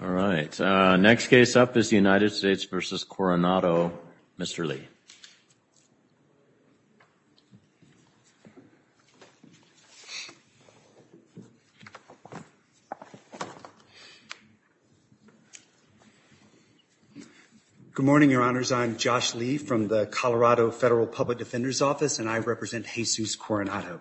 All right. Next case up is the United States v. Coronado. Mr. Lee. Good morning, Your Honors. I'm Josh Lee from the Colorado Federal Public Defender's Office, and I represent Jesus Coronado.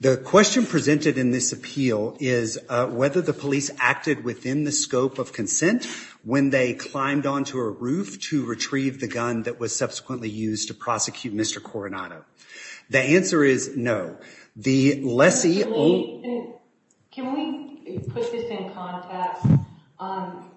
The question presented in this appeal is whether the police acted within the scope of consent when they climbed onto a roof to retrieve the gun that was subsequently used to prosecute Mr. Coronado. The answer is no. The lessee only. Can we put this in context?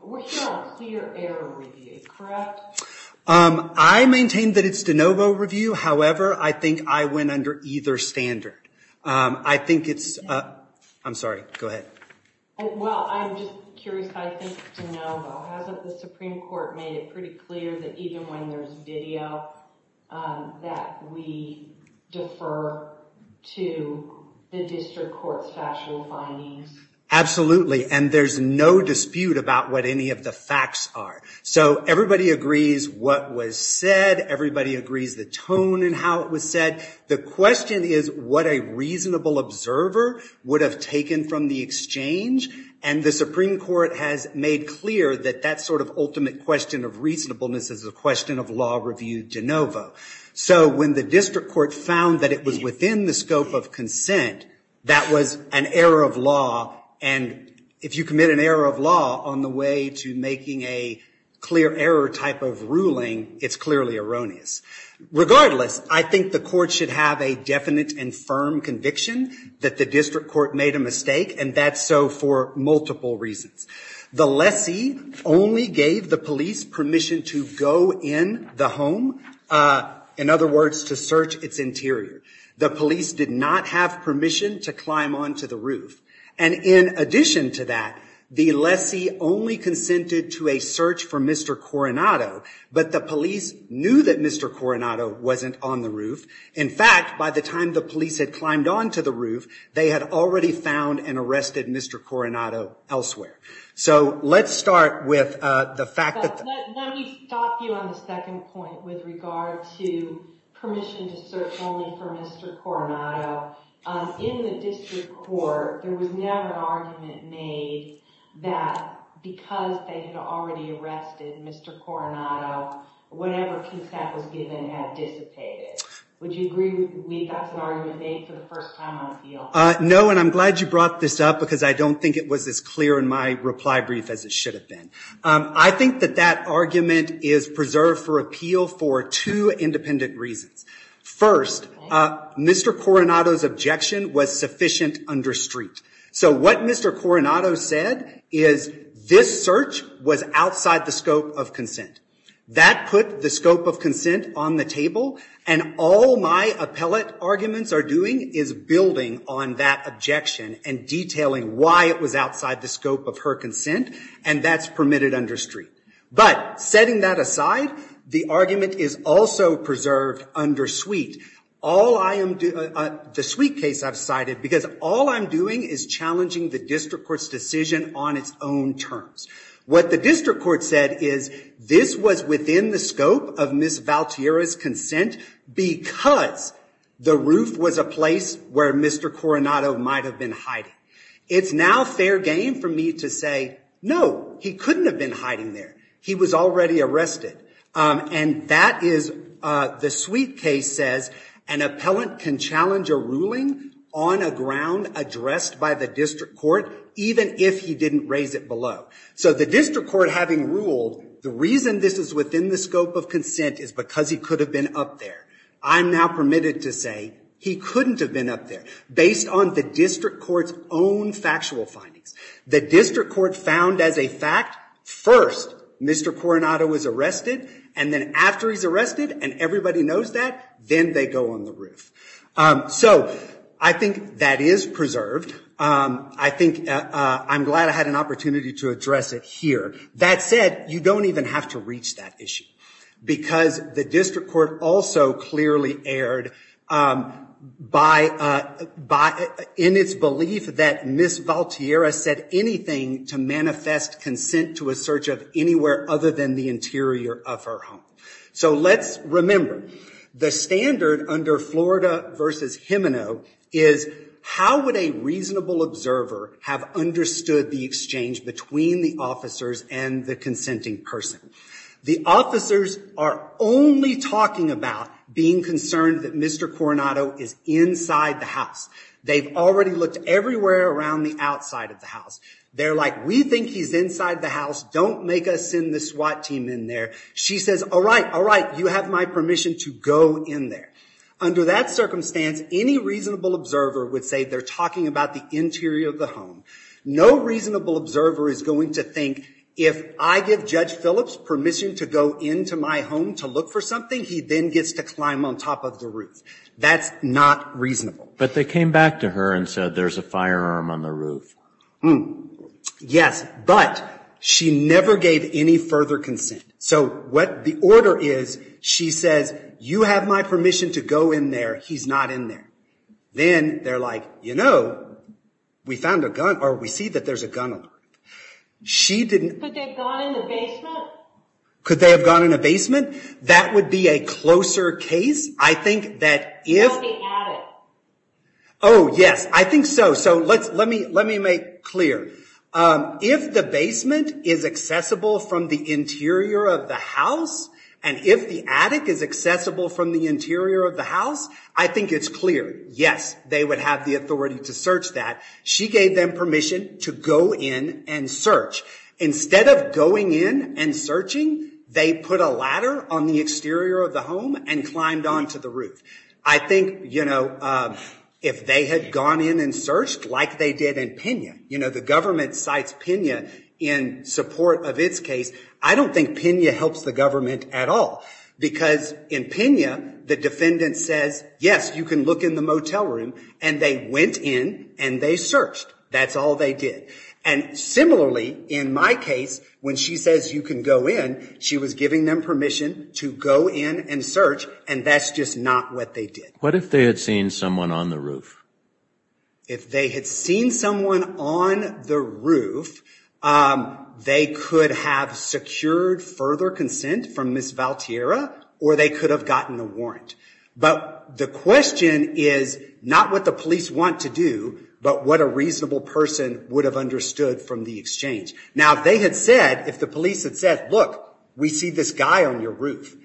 We're hearing a clear error review, correct? I maintain that it's de novo review. However, I think I went under either standard. I think it's. I'm sorry. Go ahead. Well, I'm just curious. I think it's de novo. Hasn't the Supreme Court made it pretty clear that even when there's video, that we defer to the district court's factual findings? Absolutely. And there's no dispute about what any of the facts are. So everybody agrees what was said. Everybody agrees the tone and how it was said. The question is what a reasonable observer would have taken from the exchange. And the Supreme Court has made clear that that sort of ultimate question of reasonableness is a question of law review de novo. So when the district court found that it was within the scope of consent, that was an error of law. And if you commit an error of law on the way to making a clear error type of ruling, it's clearly erroneous. Regardless, I think the court should have a definite and firm conviction that the district court made a mistake. And that's so for multiple reasons. The lessee only gave the police permission to go in the home. In other words, to search its interior. The police did not have permission to climb onto the roof. And in addition to that, the lessee only consented to a search for Mr. Coronado. But the police knew that Mr. Coronado wasn't on the roof. In fact, by the time the police had climbed onto the roof, they had already found and arrested Mr. Coronado elsewhere. So let's start with the fact that the- Let me stop you on the second point with regard to permission to search only for Mr. Coronado. In the district court, there was never an argument made that because they had already arrested Mr. Coronado, whatever QCAP was given had dissipated. Would you agree we got some argument made for the first time on appeal? No, and I'm glad you brought this up because I don't think it was as clear in my reply brief as it should have been. I think that that argument is preserved for appeal for two independent reasons. First, Mr. Coronado's objection was sufficient under street. So what Mr. Coronado said is this search was outside the scope of consent. That put the scope of consent on the table, and all my appellate arguments are doing is building on that objection and detailing why it was outside the scope of her consent, and that's permitted under street. But setting that aside, the argument is also preserved under suite. All I am doing- the suite case I've cited, because all I'm doing is challenging the district court's decision on its own terms. What the district court said is this was within the scope of Ms. Valtierra's consent because the roof was a place where Mr. Coronado might have been hiding. It's now fair game for me to say, no, he couldn't have been hiding there. He was already arrested. And that is- the suite case says an appellant can challenge a ruling on a ground addressed by the district court, even if he didn't raise it below. So the district court having ruled the reason this is within the scope of consent is because he could have been up there. I'm now permitted to say he couldn't have been up there based on the district court's own factual findings. The district court found as a fact first Mr. Coronado was arrested, and then after he's arrested and everybody knows that, then they go on the roof. So I think that is preserved. I think I'm glad I had an opportunity to address it here. That said, you don't even have to reach that issue because the district court also clearly erred in its belief that Ms. Valtierra said anything to manifest consent to a search of anywhere other than the interior of her home. So let's remember, the standard under Florida versus Gimeno is how would a reasonable observer have understood the exchange between the officers and the consenting person? The officers are only talking about being concerned that Mr. Coronado is inside the house. They've already looked everywhere around the outside of the house. They're like, we think he's inside the house. Don't make us send the SWAT team in there. She says, all right, all right, you have my permission to go in there. Under that circumstance, any reasonable observer would say they're talking about the interior of the home. No reasonable observer is going to think, if I give Judge Phillips permission to go into my home to look for something, he then gets to climb on top of the roof. That's not reasonable. But they came back to her and said, there's a firearm on the roof. Yes, but she never gave any further consent. So what the order is, she says, you have my permission to go in there. He's not in there. Then they're like, you know, we found a gun, or we see that there's a gun on the roof. She didn't. Could they have gone in the basement? Could they have gone in a basement? That would be a closer case. I think that if. Or the attic. Oh, yes, I think so. So let me make clear. If the basement is accessible from the interior of the house, and if the attic is accessible from the interior of the house, I think it's clear, yes, they would have the authority to search that. She gave them permission to go in and search. Instead of going in and searching, they put a ladder on the exterior of the home and climbed onto the roof. I think, you know, if they had gone in and searched, like they did in Pena, you know, the government cites Pena in support of its case. I don't think Pena helps the government at all. Because in Pena, the defendant says, yes, you can look in the motel room. And they went in and they searched. That's all they did. And similarly, in my case, when she says you can go in, she was giving them permission to go in and search. And that's just not what they did. What if they had seen someone on the roof? If they had seen someone on the roof, they could have secured further consent from Ms. Valtierra, or they could have gotten a warrant. But the question is not what the police want to do, but what a reasonable person would have understood from the exchange. Now, if they had said, if the police had said, look, we see this guy on your roof,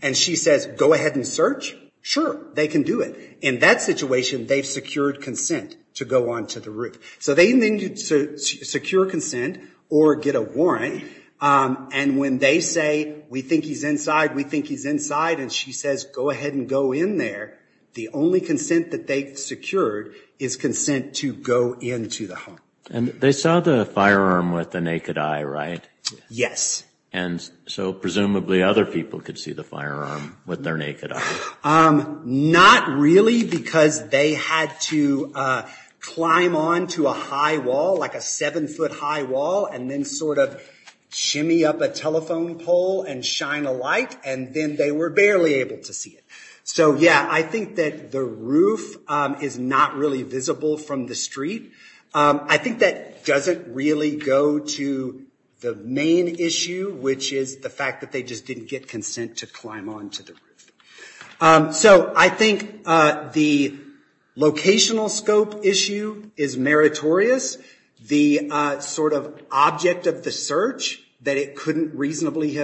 and she says go ahead and search, sure, they can do it. In that situation, they've secured consent to go onto the roof. So they need to secure consent or get a warrant. And when they say, we think he's inside, we think he's inside, and she says, go ahead and go in there, the only consent that they've secured is consent to go into the home. And they saw the firearm with the naked eye, right? Yes. And so presumably, other people could see the firearm with their naked eye. Not really, because they had to climb onto a high wall, like a seven foot high wall, and then sort of shimmy up a telephone pole and shine a light, and then they were barely able to see it. So yeah, I think that the roof is not really visible from the street. I think that doesn't really go to the main issue, which is the fact that they just didn't get consent to climb onto the roof. So I think the locational scope issue is meritorious. The sort of object of the search, that he couldn't reasonably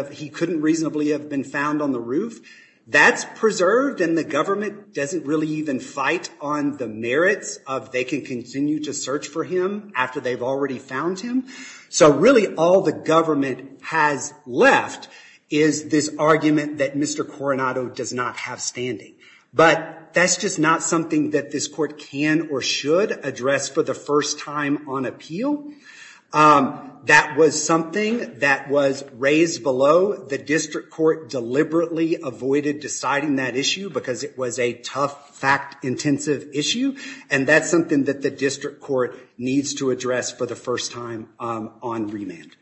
have been found on the roof, that's preserved. And the government doesn't really even fight on the merits of they can continue to search for him after they've already found him. So really, all the government has left is this argument that Mr. Coronado does not have standing. But that's just not something that this court can or should address for the first time on appeal. That was something that was raised below. The district court deliberately avoided deciding that issue, because it was a tough, fact-intensive issue. And that's something that the district court needs to address for the first time on remand.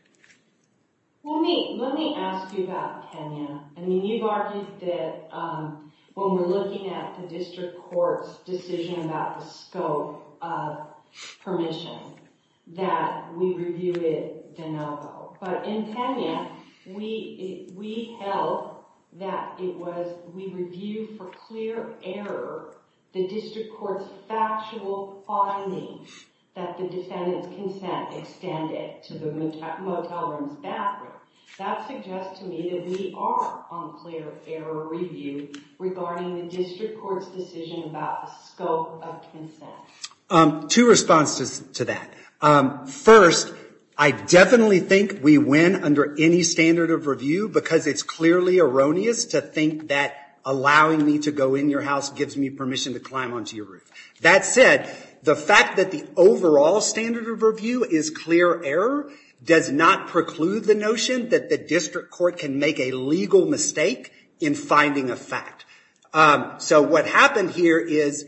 Let me ask you about Kenya. I mean, you've argued that when we're looking at the district court's decision about the scope of permission, that we reviewed it de novo. But in Kenya, we held that we reviewed for clear error the district court's factual findings that the defendant's consent extended to the motel room's That suggests to me that we are on clear error review regarding the district court's decision about the scope of consent. Two responses to that. First, I definitely think we win under any standard of review, because it's clearly erroneous to think that allowing me to go in your house gives me permission to climb onto your roof. That said, the fact that the overall standard of review is clear error does not preclude the notion that the district court can make a legal mistake in finding a fact. So what happened here is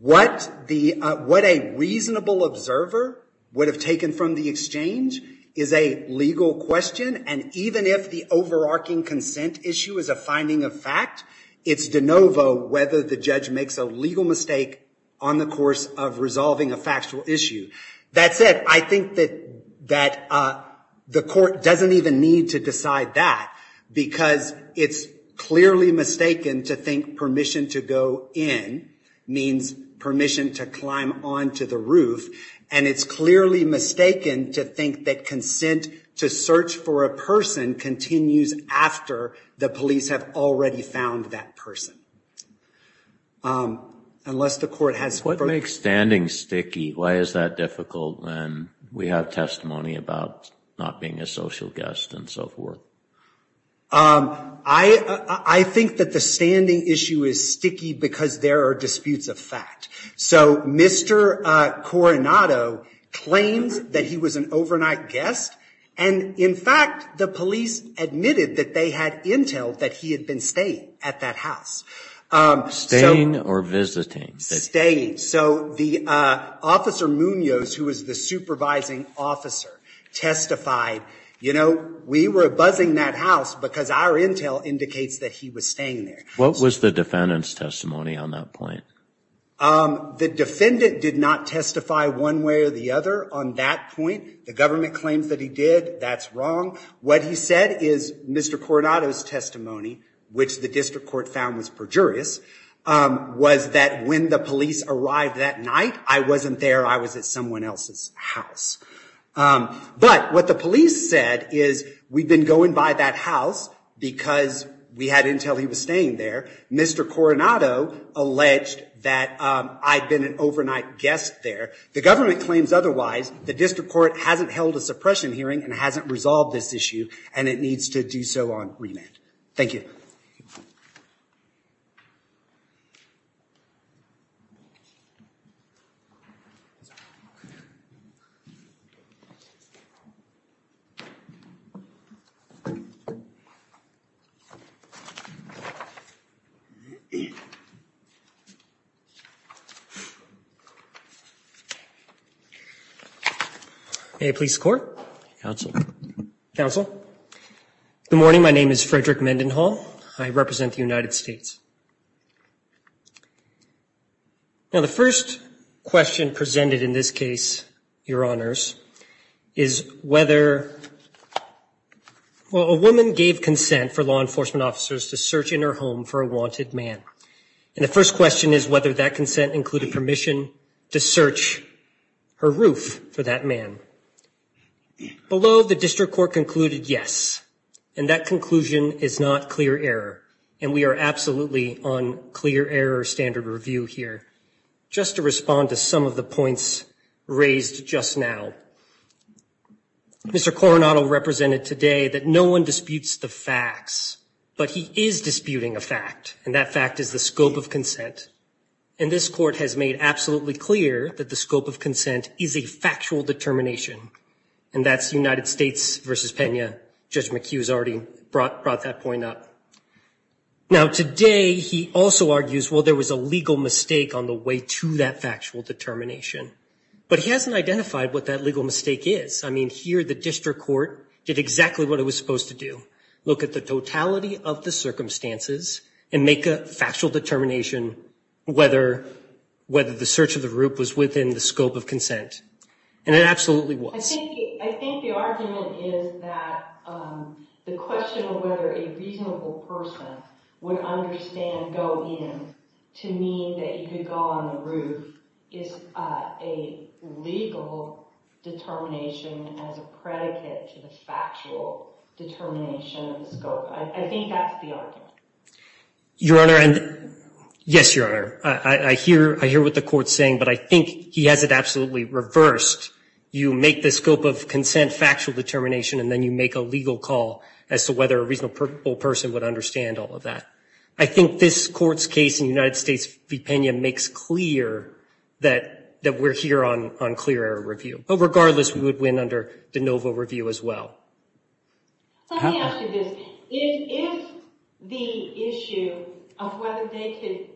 what a reasonable observer would have taken from the exchange is a legal question. And even if the overarching consent issue is a finding of fact, it's de novo whether the judge makes a legal mistake on the course of resolving a factual issue. That said, I think that the court doesn't even need to decide that, because it's clearly mistaken to think permission to go in means permission to climb onto the roof. And it's clearly mistaken to think that consent to search for a person continues after the police have already found that person, unless the court has further. What makes standing sticky? Why is that difficult when we have testimony about not being a social guest and so forth? I think that the standing issue is sticky, because there are disputes of fact. So Mr. Coronado claims that he was an overnight guest. And in fact, the police admitted that they had intel that he had been staying at that house. Staying or visiting? Staying. So the officer Munoz, who was the supervising officer, testified, you know, we were buzzing that house because our intel indicates that he was staying there. What was the defendant's testimony on that point? The defendant did not testify one way or the other on that point. The government claims that he did. That's wrong. What he said is Mr. Coronado's testimony, which the district court found was perjurious, was that when the police arrived that night, I wasn't there. I was at someone else's house. But what the police said is, we've been going by that house because we had intel he was staying there. Mr. Coronado alleged that I'd been an overnight guest there. The government claims otherwise. The district court hasn't held a suppression hearing and hasn't resolved this issue, and it needs to do so on remand. Thank you. May I please score? Counsel, good morning. My name is Frederick Mendenhall. I represent the United States. Now the first question presented in this case, your honors, is whether, well, a woman gave consent for law enforcement officers to search in her home for a wanted man. And the first question is whether that consent included permission to search her roof for that man. Below, the district court concluded yes, and that conclusion is not clear error. And we are absolutely on clear error standard review here, just to respond to some of the points raised just now. Mr. Coronado represented today that no one disputes the facts, but he is disputing a fact, and that fact is the scope of consent. And this court has made absolutely clear that the scope of consent is a factual determination, and that's United States versus Pena. Judge McHugh has already brought that point up. Now today, he also argues, well, there was a legal mistake on the way to that factual determination. But he hasn't identified what that legal mistake is. I mean, here the district court did exactly what it was supposed to do. Look at the totality of the circumstances and make a factual determination whether the search of the roof was within the scope of consent. And it absolutely was. I think the argument is that the question of whether a reasonable person would understand go in to mean that you could go on the roof is a legal determination as a predicate to the factual determination of the scope. I think that's the argument. Your Honor, and yes, Your Honor. I hear what the court's saying, but I think he has it absolutely reversed. You make the scope of consent factual determination, and then you make a legal call as to whether a reasonable person would understand all of that. I think this court's case in United States v. Pena makes clear that we're here on clear error review. But regardless, we would win under de novo review as well. Let me ask you this. If the issue of whether they could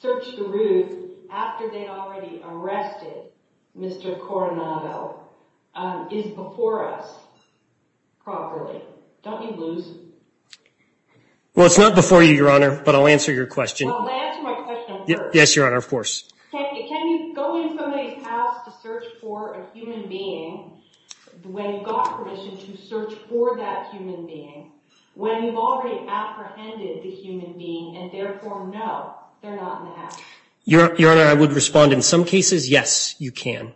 search the roof after they'd already arrested Mr. Coronado is before us properly, don't you lose? Well, it's not before you, Your Honor, but I'll answer your question. Well, answer my question first. Yes, Your Honor, of course. Can you go in somebody's house to search for a human being when you've got permission to search for that human being when you've already apprehended the human being, and therefore, no, they're not in the house? Your Honor, I would respond, in some cases, yes, you can.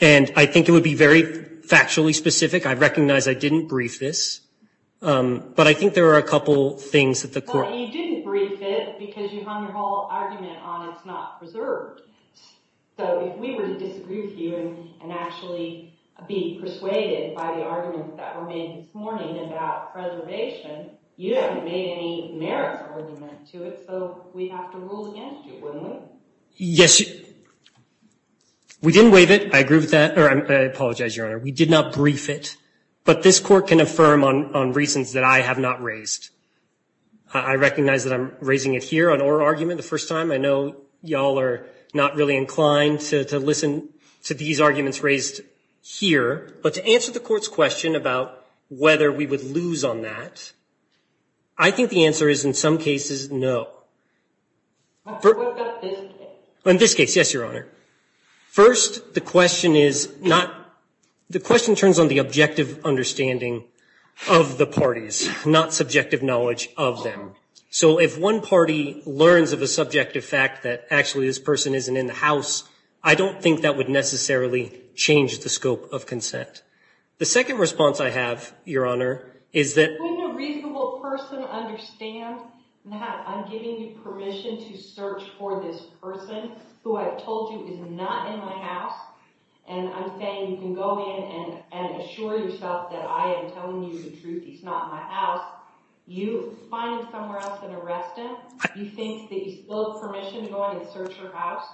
And I think it would be very factually specific. I recognize I didn't brief this, but I think there are a couple things that the court Well, you didn't brief it because you hung your whole argument on it's not preserved. So if we were to disagree with you and actually be persuaded by the arguments that were made this morning about preservation, you haven't made any merits argument to it, so we'd have to rule against you, wouldn't we? Yes. We didn't waive it. I agree with that, or I apologize, Your Honor. We did not brief it. But this court can affirm on reasons that I have not raised. I recognize that I'm raising it here on our argument the first time. I know y'all are not really inclined to listen to these arguments raised here. But to answer the court's question about whether we would lose on that, I think the answer is, in some cases, no. What about this case? In this case, yes, Your Honor. First, the question turns on the objective understanding of the parties, not subjective knowledge of them. So if one party learns of a subjective fact that, actually, this person isn't in the house, I don't think that would necessarily change the scope of consent. The second response I have, Your Honor, is that when a reasonable person understands that I'm giving you permission to search for this person who I told you is not in my house, and I'm saying you can go in and assure yourself that I am telling you the truth, he's not in my house, you find him somewhere else and arrest him? You think that you still have permission to go in and search your house?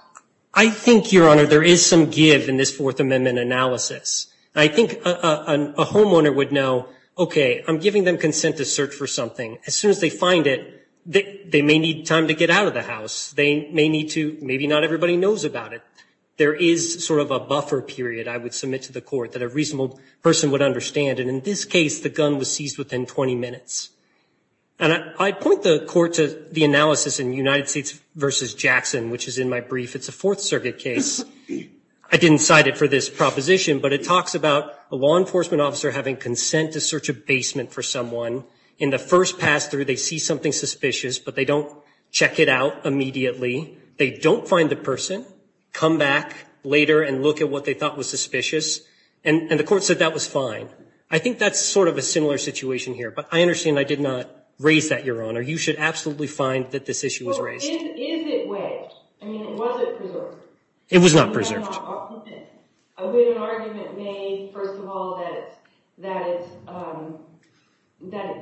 I think, Your Honor, there is some give in this Fourth Amendment analysis. I think a homeowner would know, OK, I'm giving them consent to search for something. As soon as they find it, they may need time to get out of the house. They may need to, maybe not everybody knows about it. There is sort of a buffer period, I would submit to the court, that a reasonable person would understand. And in this case, the gun was seized within 20 minutes. And I point the court to the analysis in United States versus Jackson, which is in my brief. It's a Fourth Circuit case. I didn't cite it for this proposition, but it talks about a law enforcement officer having consent to search a basement for someone. In the first pass-through, they see something suspicious, but they don't check it out immediately. They don't find the person, come back later and look at what they thought was suspicious, and the court said that was fine. I think that's sort of a similar situation here. But I understand I did not raise that, Your Honor. You should absolutely find that this issue was raised. Well, is it waived? I mean, was it preserved? It was not preserved. We have an argument made, first of all, that it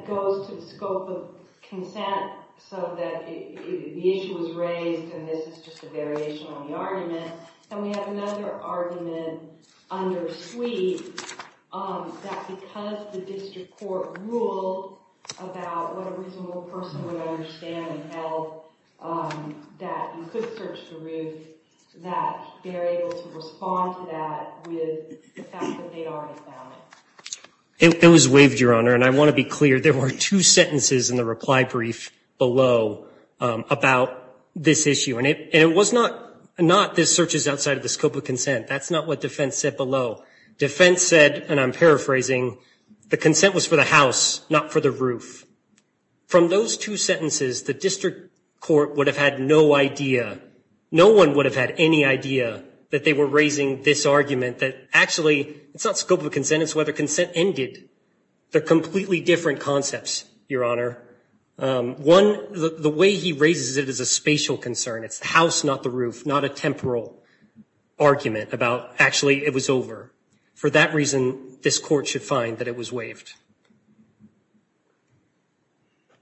goes to the scope of consent so that the issue was raised, and this is just a variation on the argument. And we have another argument under Sweet that because the district court ruled about what a reasonable person would understand and held that you could search the roof, that they're able to respond to that with the fact that they already found it. It was waived, Your Honor, and I want to be clear. There were two sentences in the reply brief below about this issue. And it was not this search is outside of the scope of consent. That's not what defense said below. Defense said, and I'm paraphrasing, the consent was for the house, not for the roof. From those two sentences, the district court would have had no idea. No one would have had any idea that they were raising this argument that, actually, it's not scope of consent. It's whether consent ended. They're completely different concepts, Your Honor. One, the way he raises it is a spatial concern. It's the house, not the roof, not a temporal argument about, actually, it was over. For that reason, this court should find that it was waived.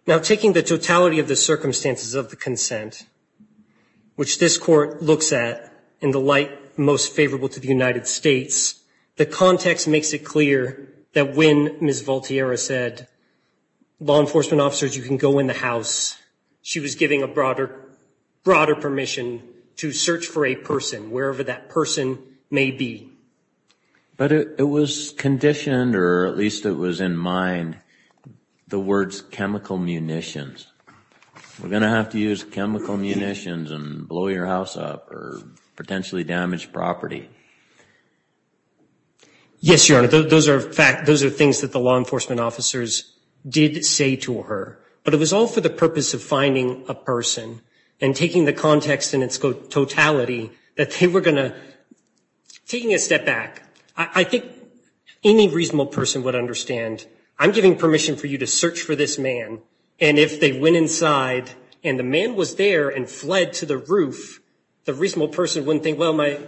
Now, taking the totality of the circumstances of the consent, which this court looks at in the light most favorable to the United States, the context makes it clear that when Ms. Voltierra said, law enforcement officers, you can go in the house, she was giving a broader permission to search for a person, wherever that person may be. But it was conditioned, or at least it was in mind, the words, chemical munitions. We're going to have to use chemical munitions and blow your house up, or potentially damage property. Yes, Your Honor. Those are things that the law enforcement officers did say to her. But it was all for the purpose of finding a person and taking the context in its totality, that they were going to, taking a step back, I think any reasonable person would understand, I'm giving permission for you to search for this man. And if they went inside, and the man was there and fled to the roof, the reasonable person wouldn't think, well, my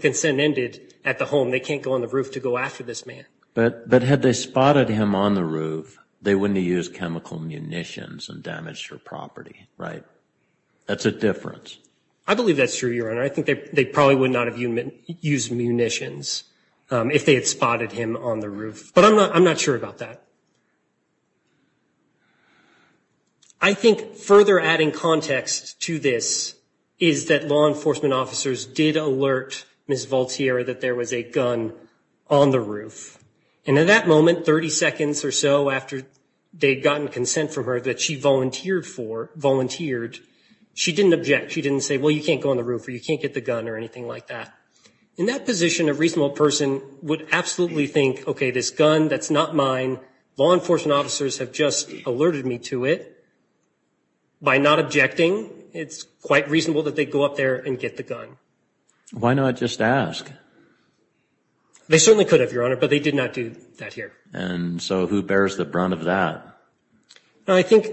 consent ended at the home. They can't go on the roof to go after this man. But had they spotted him on the roof, they wouldn't have used chemical munitions and damaged her property, right? That's a difference. I believe that's true, Your Honor. I think they probably would not have used munitions if they had spotted him on the roof. But I'm not sure about that. I think further adding context to this is that law enforcement officers did alert Ms. Volterra that there was a gun on the roof. And in that moment, 30 seconds or so after they'd gotten consent from her that she volunteered for, volunteered, she didn't object. She didn't say, well, you can't go on the roof or you can't get the gun or anything like that. In that position, a reasonable person would absolutely think, okay, this gun, that's not mine. Law enforcement officers have just alerted me to it. By not objecting, it's quite reasonable that they go up there and get the gun. Why not just ask? They certainly could have, Your Honor, but they did not do that here. And so who bears the brunt of that? I think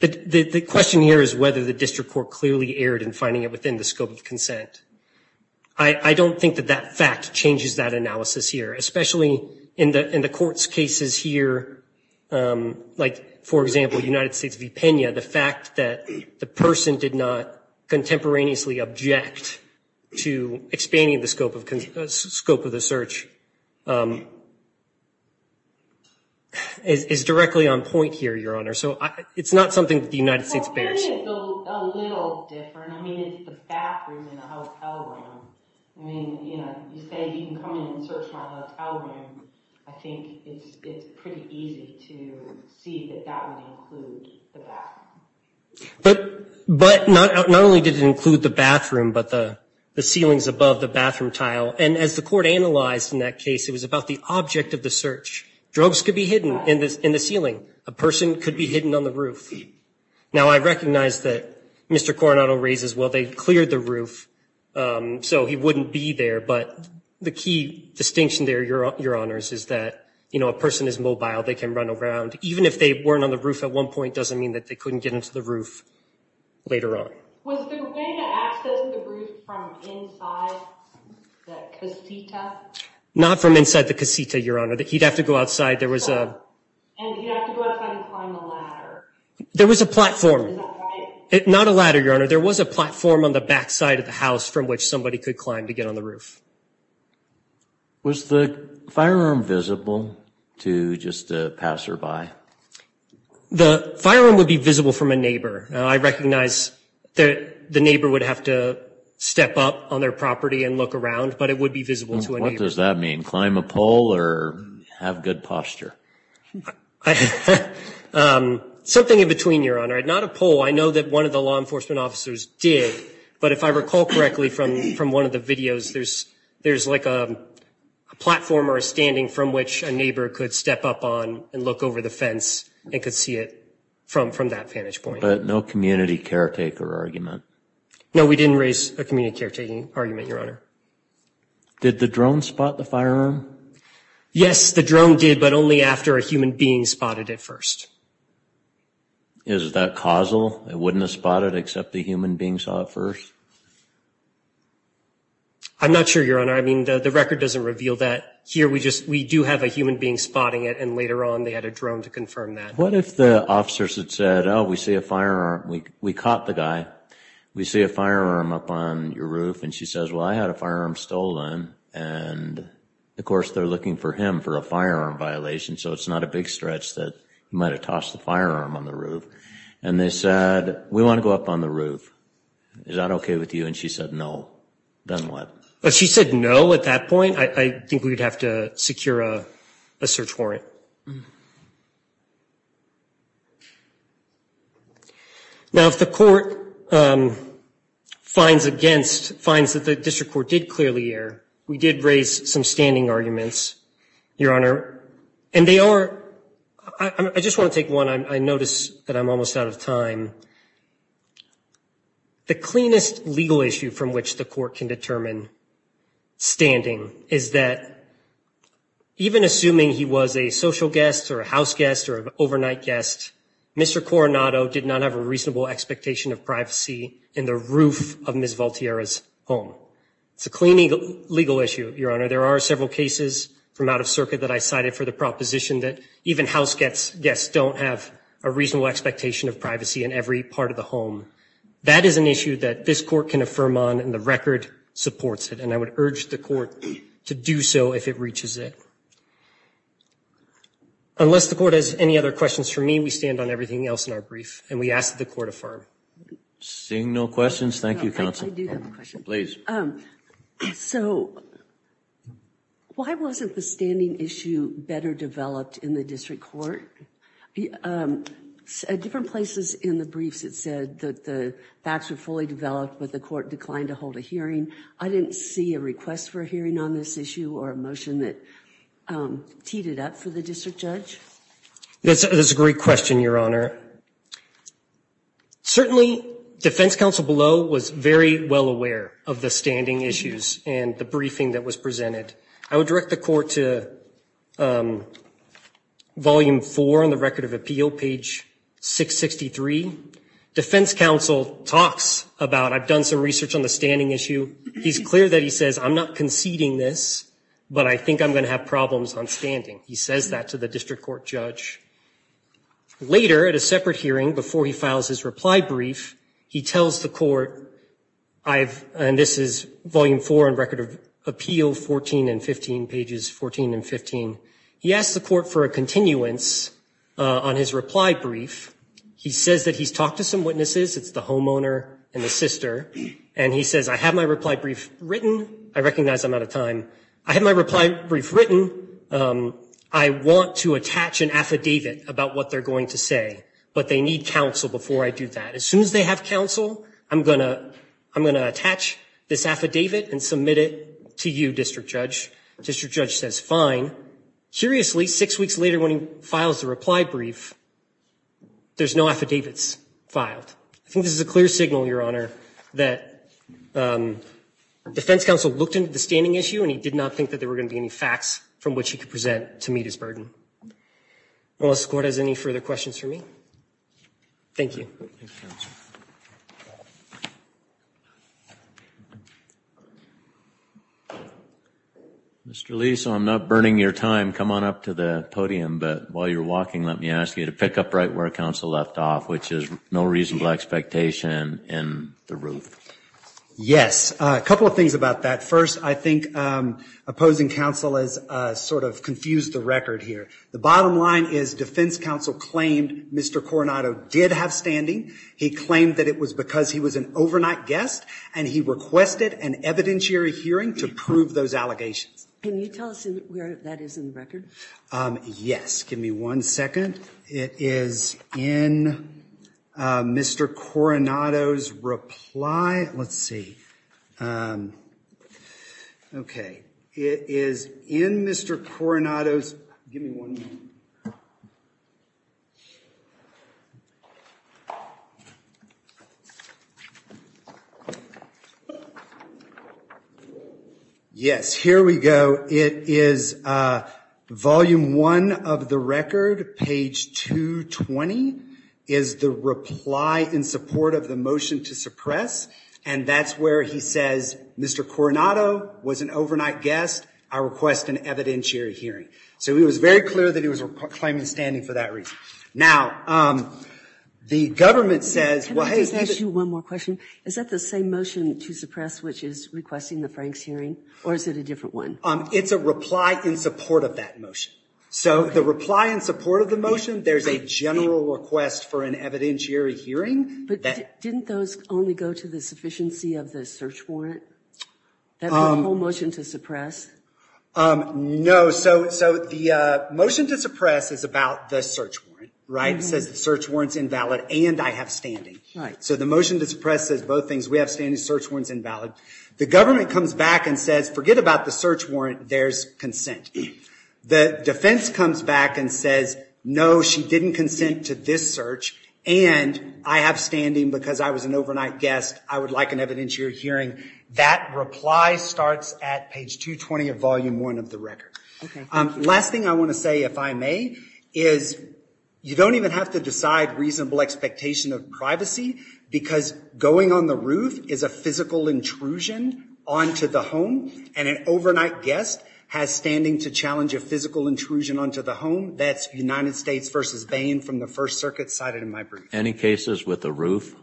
the question here is whether the district court clearly erred in finding it within the scope of consent. I don't think that that fact changes that analysis here, especially in the court's cases here, like, for example, United States v. Pena, the fact that the person did not contemporaneously object to expanding the scope of the search is directly on point here, Your Honor. So it's not something that the United States bears. Well, Pena is a little different. I mean, it's the bathroom in a hotel room. I mean, you say you can come in and search my hotel room. I think it's pretty easy to see that that would include the bathroom. But not only did it include the bathroom, but the ceilings above the bathroom tile. And as the court analyzed in that case, it was about the object of the search. Drugs could be hidden in the ceiling. A person could be hidden on the roof. Now, I recognize that Mr. Coronado raises, well, they cleared the roof, so he wouldn't be there. But the key distinction there, Your Honors, is that a person is mobile. They can run around. Even if they weren't on the roof at one point doesn't mean that they couldn't get into the roof later on. Was there a way to access the roof from inside the casita? Not from inside the casita, Your Honor. He'd have to go outside. There was a... And he'd have to go outside and climb a ladder. There was a platform. Is that right? Not a ladder, Your Honor. There was a platform on the backside of the house from which somebody could climb to get on the roof. Was the firearm visible to just a passerby? The firearm would be visible from a neighbor. I recognize that the neighbor would have to step up on their property and look around, but it would be visible to a neighbor. What does that mean? Climb a pole or have good posture? Something in between, Your Honor. Not a pole. I know that one of the law enforcement officers did, but if I recall correctly from one of the videos, there's like a platform or a standing from which a neighbor could step up on and look over the fence and could see it from that vantage point. But no community caretaker argument? No, we didn't raise a community caretaking argument, Did the drone spot the firearm? Yes, the drone did, but only after a human being spotted it first. Is that causal? It wouldn't have spotted it except the human being saw it first? I'm not sure, Your Honor. I mean, the record doesn't reveal that. Here, we do have a human being spotting it, and later on, they had a drone to confirm that. What if the officers had said, oh, we see a firearm, we caught the guy, we see a firearm up on your roof, and she says, well, I had a firearm stolen, and of course, they're looking for him for a firearm violation, so it's not a big stretch that he might have tossed the firearm on the roof. And they said, we want to go up on the roof. Is that okay with you? And she said, no. Then what? If she said no at that point, I think we'd have to secure a search warrant. Now, if the court finds against, finds that the district court did clearly err, we did raise some standing arguments, Your Honor. And they are, I just want to take one. I notice that I'm almost out of time. The cleanest legal issue from which the court can determine standing is that even assuming he was a social guest or a house guest or an overnight guest, Mr. Coronado did not have a reasonable expectation of privacy in the roof of Ms. Valtierra's home. It's a clean legal issue, Your Honor. There are several cases from out of circuit that I cited for the proposition that even house guests don't have a reasonable expectation of privacy in every part of the home. That is an issue that this court can affirm on, and the record supports it, and I would urge the court to do so if it reaches it. Unless the court has any other questions for me, then we stand on everything else in our brief, and we ask that the court affirm. Seeing no questions, thank you, Counsel. I do have a question. Please. So, why wasn't the standing issue better developed in the district court? Different places in the briefs, it said that the facts were fully developed, but the court declined to hold a hearing. I didn't see a request for a hearing on this issue or a motion that teed it up for the district judge. That's a great question, Your Honor. Certainly, defense counsel below was very well aware of the standing issues and the briefing that was presented. I would direct the court to volume four on the record of appeal, page 663. Defense counsel talks about, I've done some research on the standing issue. He's clear that he says, I'm not conceding this, but I think I'm gonna have problems on standing. He says that to the district court judge. Later, at a separate hearing, before he files his reply brief, he tells the court, and this is volume four on record of appeal, 14 and 15, pages 14 and 15. He asks the court for a continuance on his reply brief. He says that he's talked to some witnesses. It's the homeowner and the sister, and he says, I have my reply brief written. I recognize I'm out of time. I have my reply brief written. I want to attach an affidavit about what they're going to say, but they need counsel before I do that. As soon as they have counsel, I'm gonna attach this affidavit and submit it to you, district judge. District judge says, fine. Curiously, six weeks later when he files the reply brief, there's no affidavits filed. I think this is a clear signal, Your Honor, that defense counsel looked into the standing issue and he did not think that there were gonna be any facts from which he could present to meet his burden. Well, does the court has any further questions for me? Thank you. Mr. Lee, so I'm not burning your time. Come on up to the podium, but while you're walking, let me ask you to pick up right where counsel left off, which is no reasonable expectation in the roof. Yes, a couple of things about that. First, I think opposing counsel has sort of confused the record here. The bottom line is defense counsel claimed Mr. Coronado did have standing. He claimed that it was because he was an overnight guest and he requested an evidentiary hearing to prove those allegations. Can you tell us where that is in the record? Yes, give me one second. It is in Mr. Coronado's reply. Let's see. Okay, it is in Mr. Coronado's, give me one moment. Yes, here we go. It is volume one of the record, page 220, is the reply in support of the motion to suppress and that's where he says, Mr. Coronado was an overnight guest, I request an evidentiary hearing. So it was very clear that he was claiming standing for that reason. Now, the government says, well, hey. Can I just ask you one more question? Is that the same motion to suppress which is requesting the Franks hearing or is it a different one? It's a reply in support of that motion. So the reply in support of the motion, there's a general request for an evidentiary hearing. But didn't those only go to the sufficiency of the search warrant? That whole motion to suppress? No, so the motion to suppress is about the search warrant. It says the search warrant's invalid and I have standing. So the motion to suppress says both things. We have standing, search warrant's invalid. The government comes back and says, forget about the search warrant, there's consent. The defense comes back and says, no, she didn't consent to this search and I have standing because I was an overnight guest. I would like an evidentiary hearing. That reply starts at page 220 of volume one of the record. Last thing I want to say, if I may, is you don't even have to decide reasonable expectation of privacy because going on the roof is a physical intrusion onto the home and an overnight guest has standing to challenge a physical intrusion onto the home. That's United States versus Bain from the First Circuit cited in my brief. Any cases with the roof?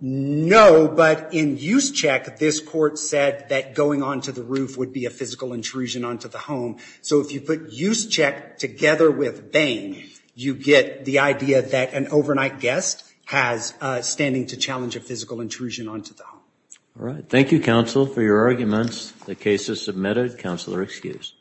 No, but in use check, this court said that going onto the roof would be a physical intrusion onto the home. So if you put use check together with Bain, you get the idea that an overnight guest has standing to challenge a physical intrusion onto the home. All right, thank you, counsel, for your arguments. The case is submitted. Counsel are excused. Thank you.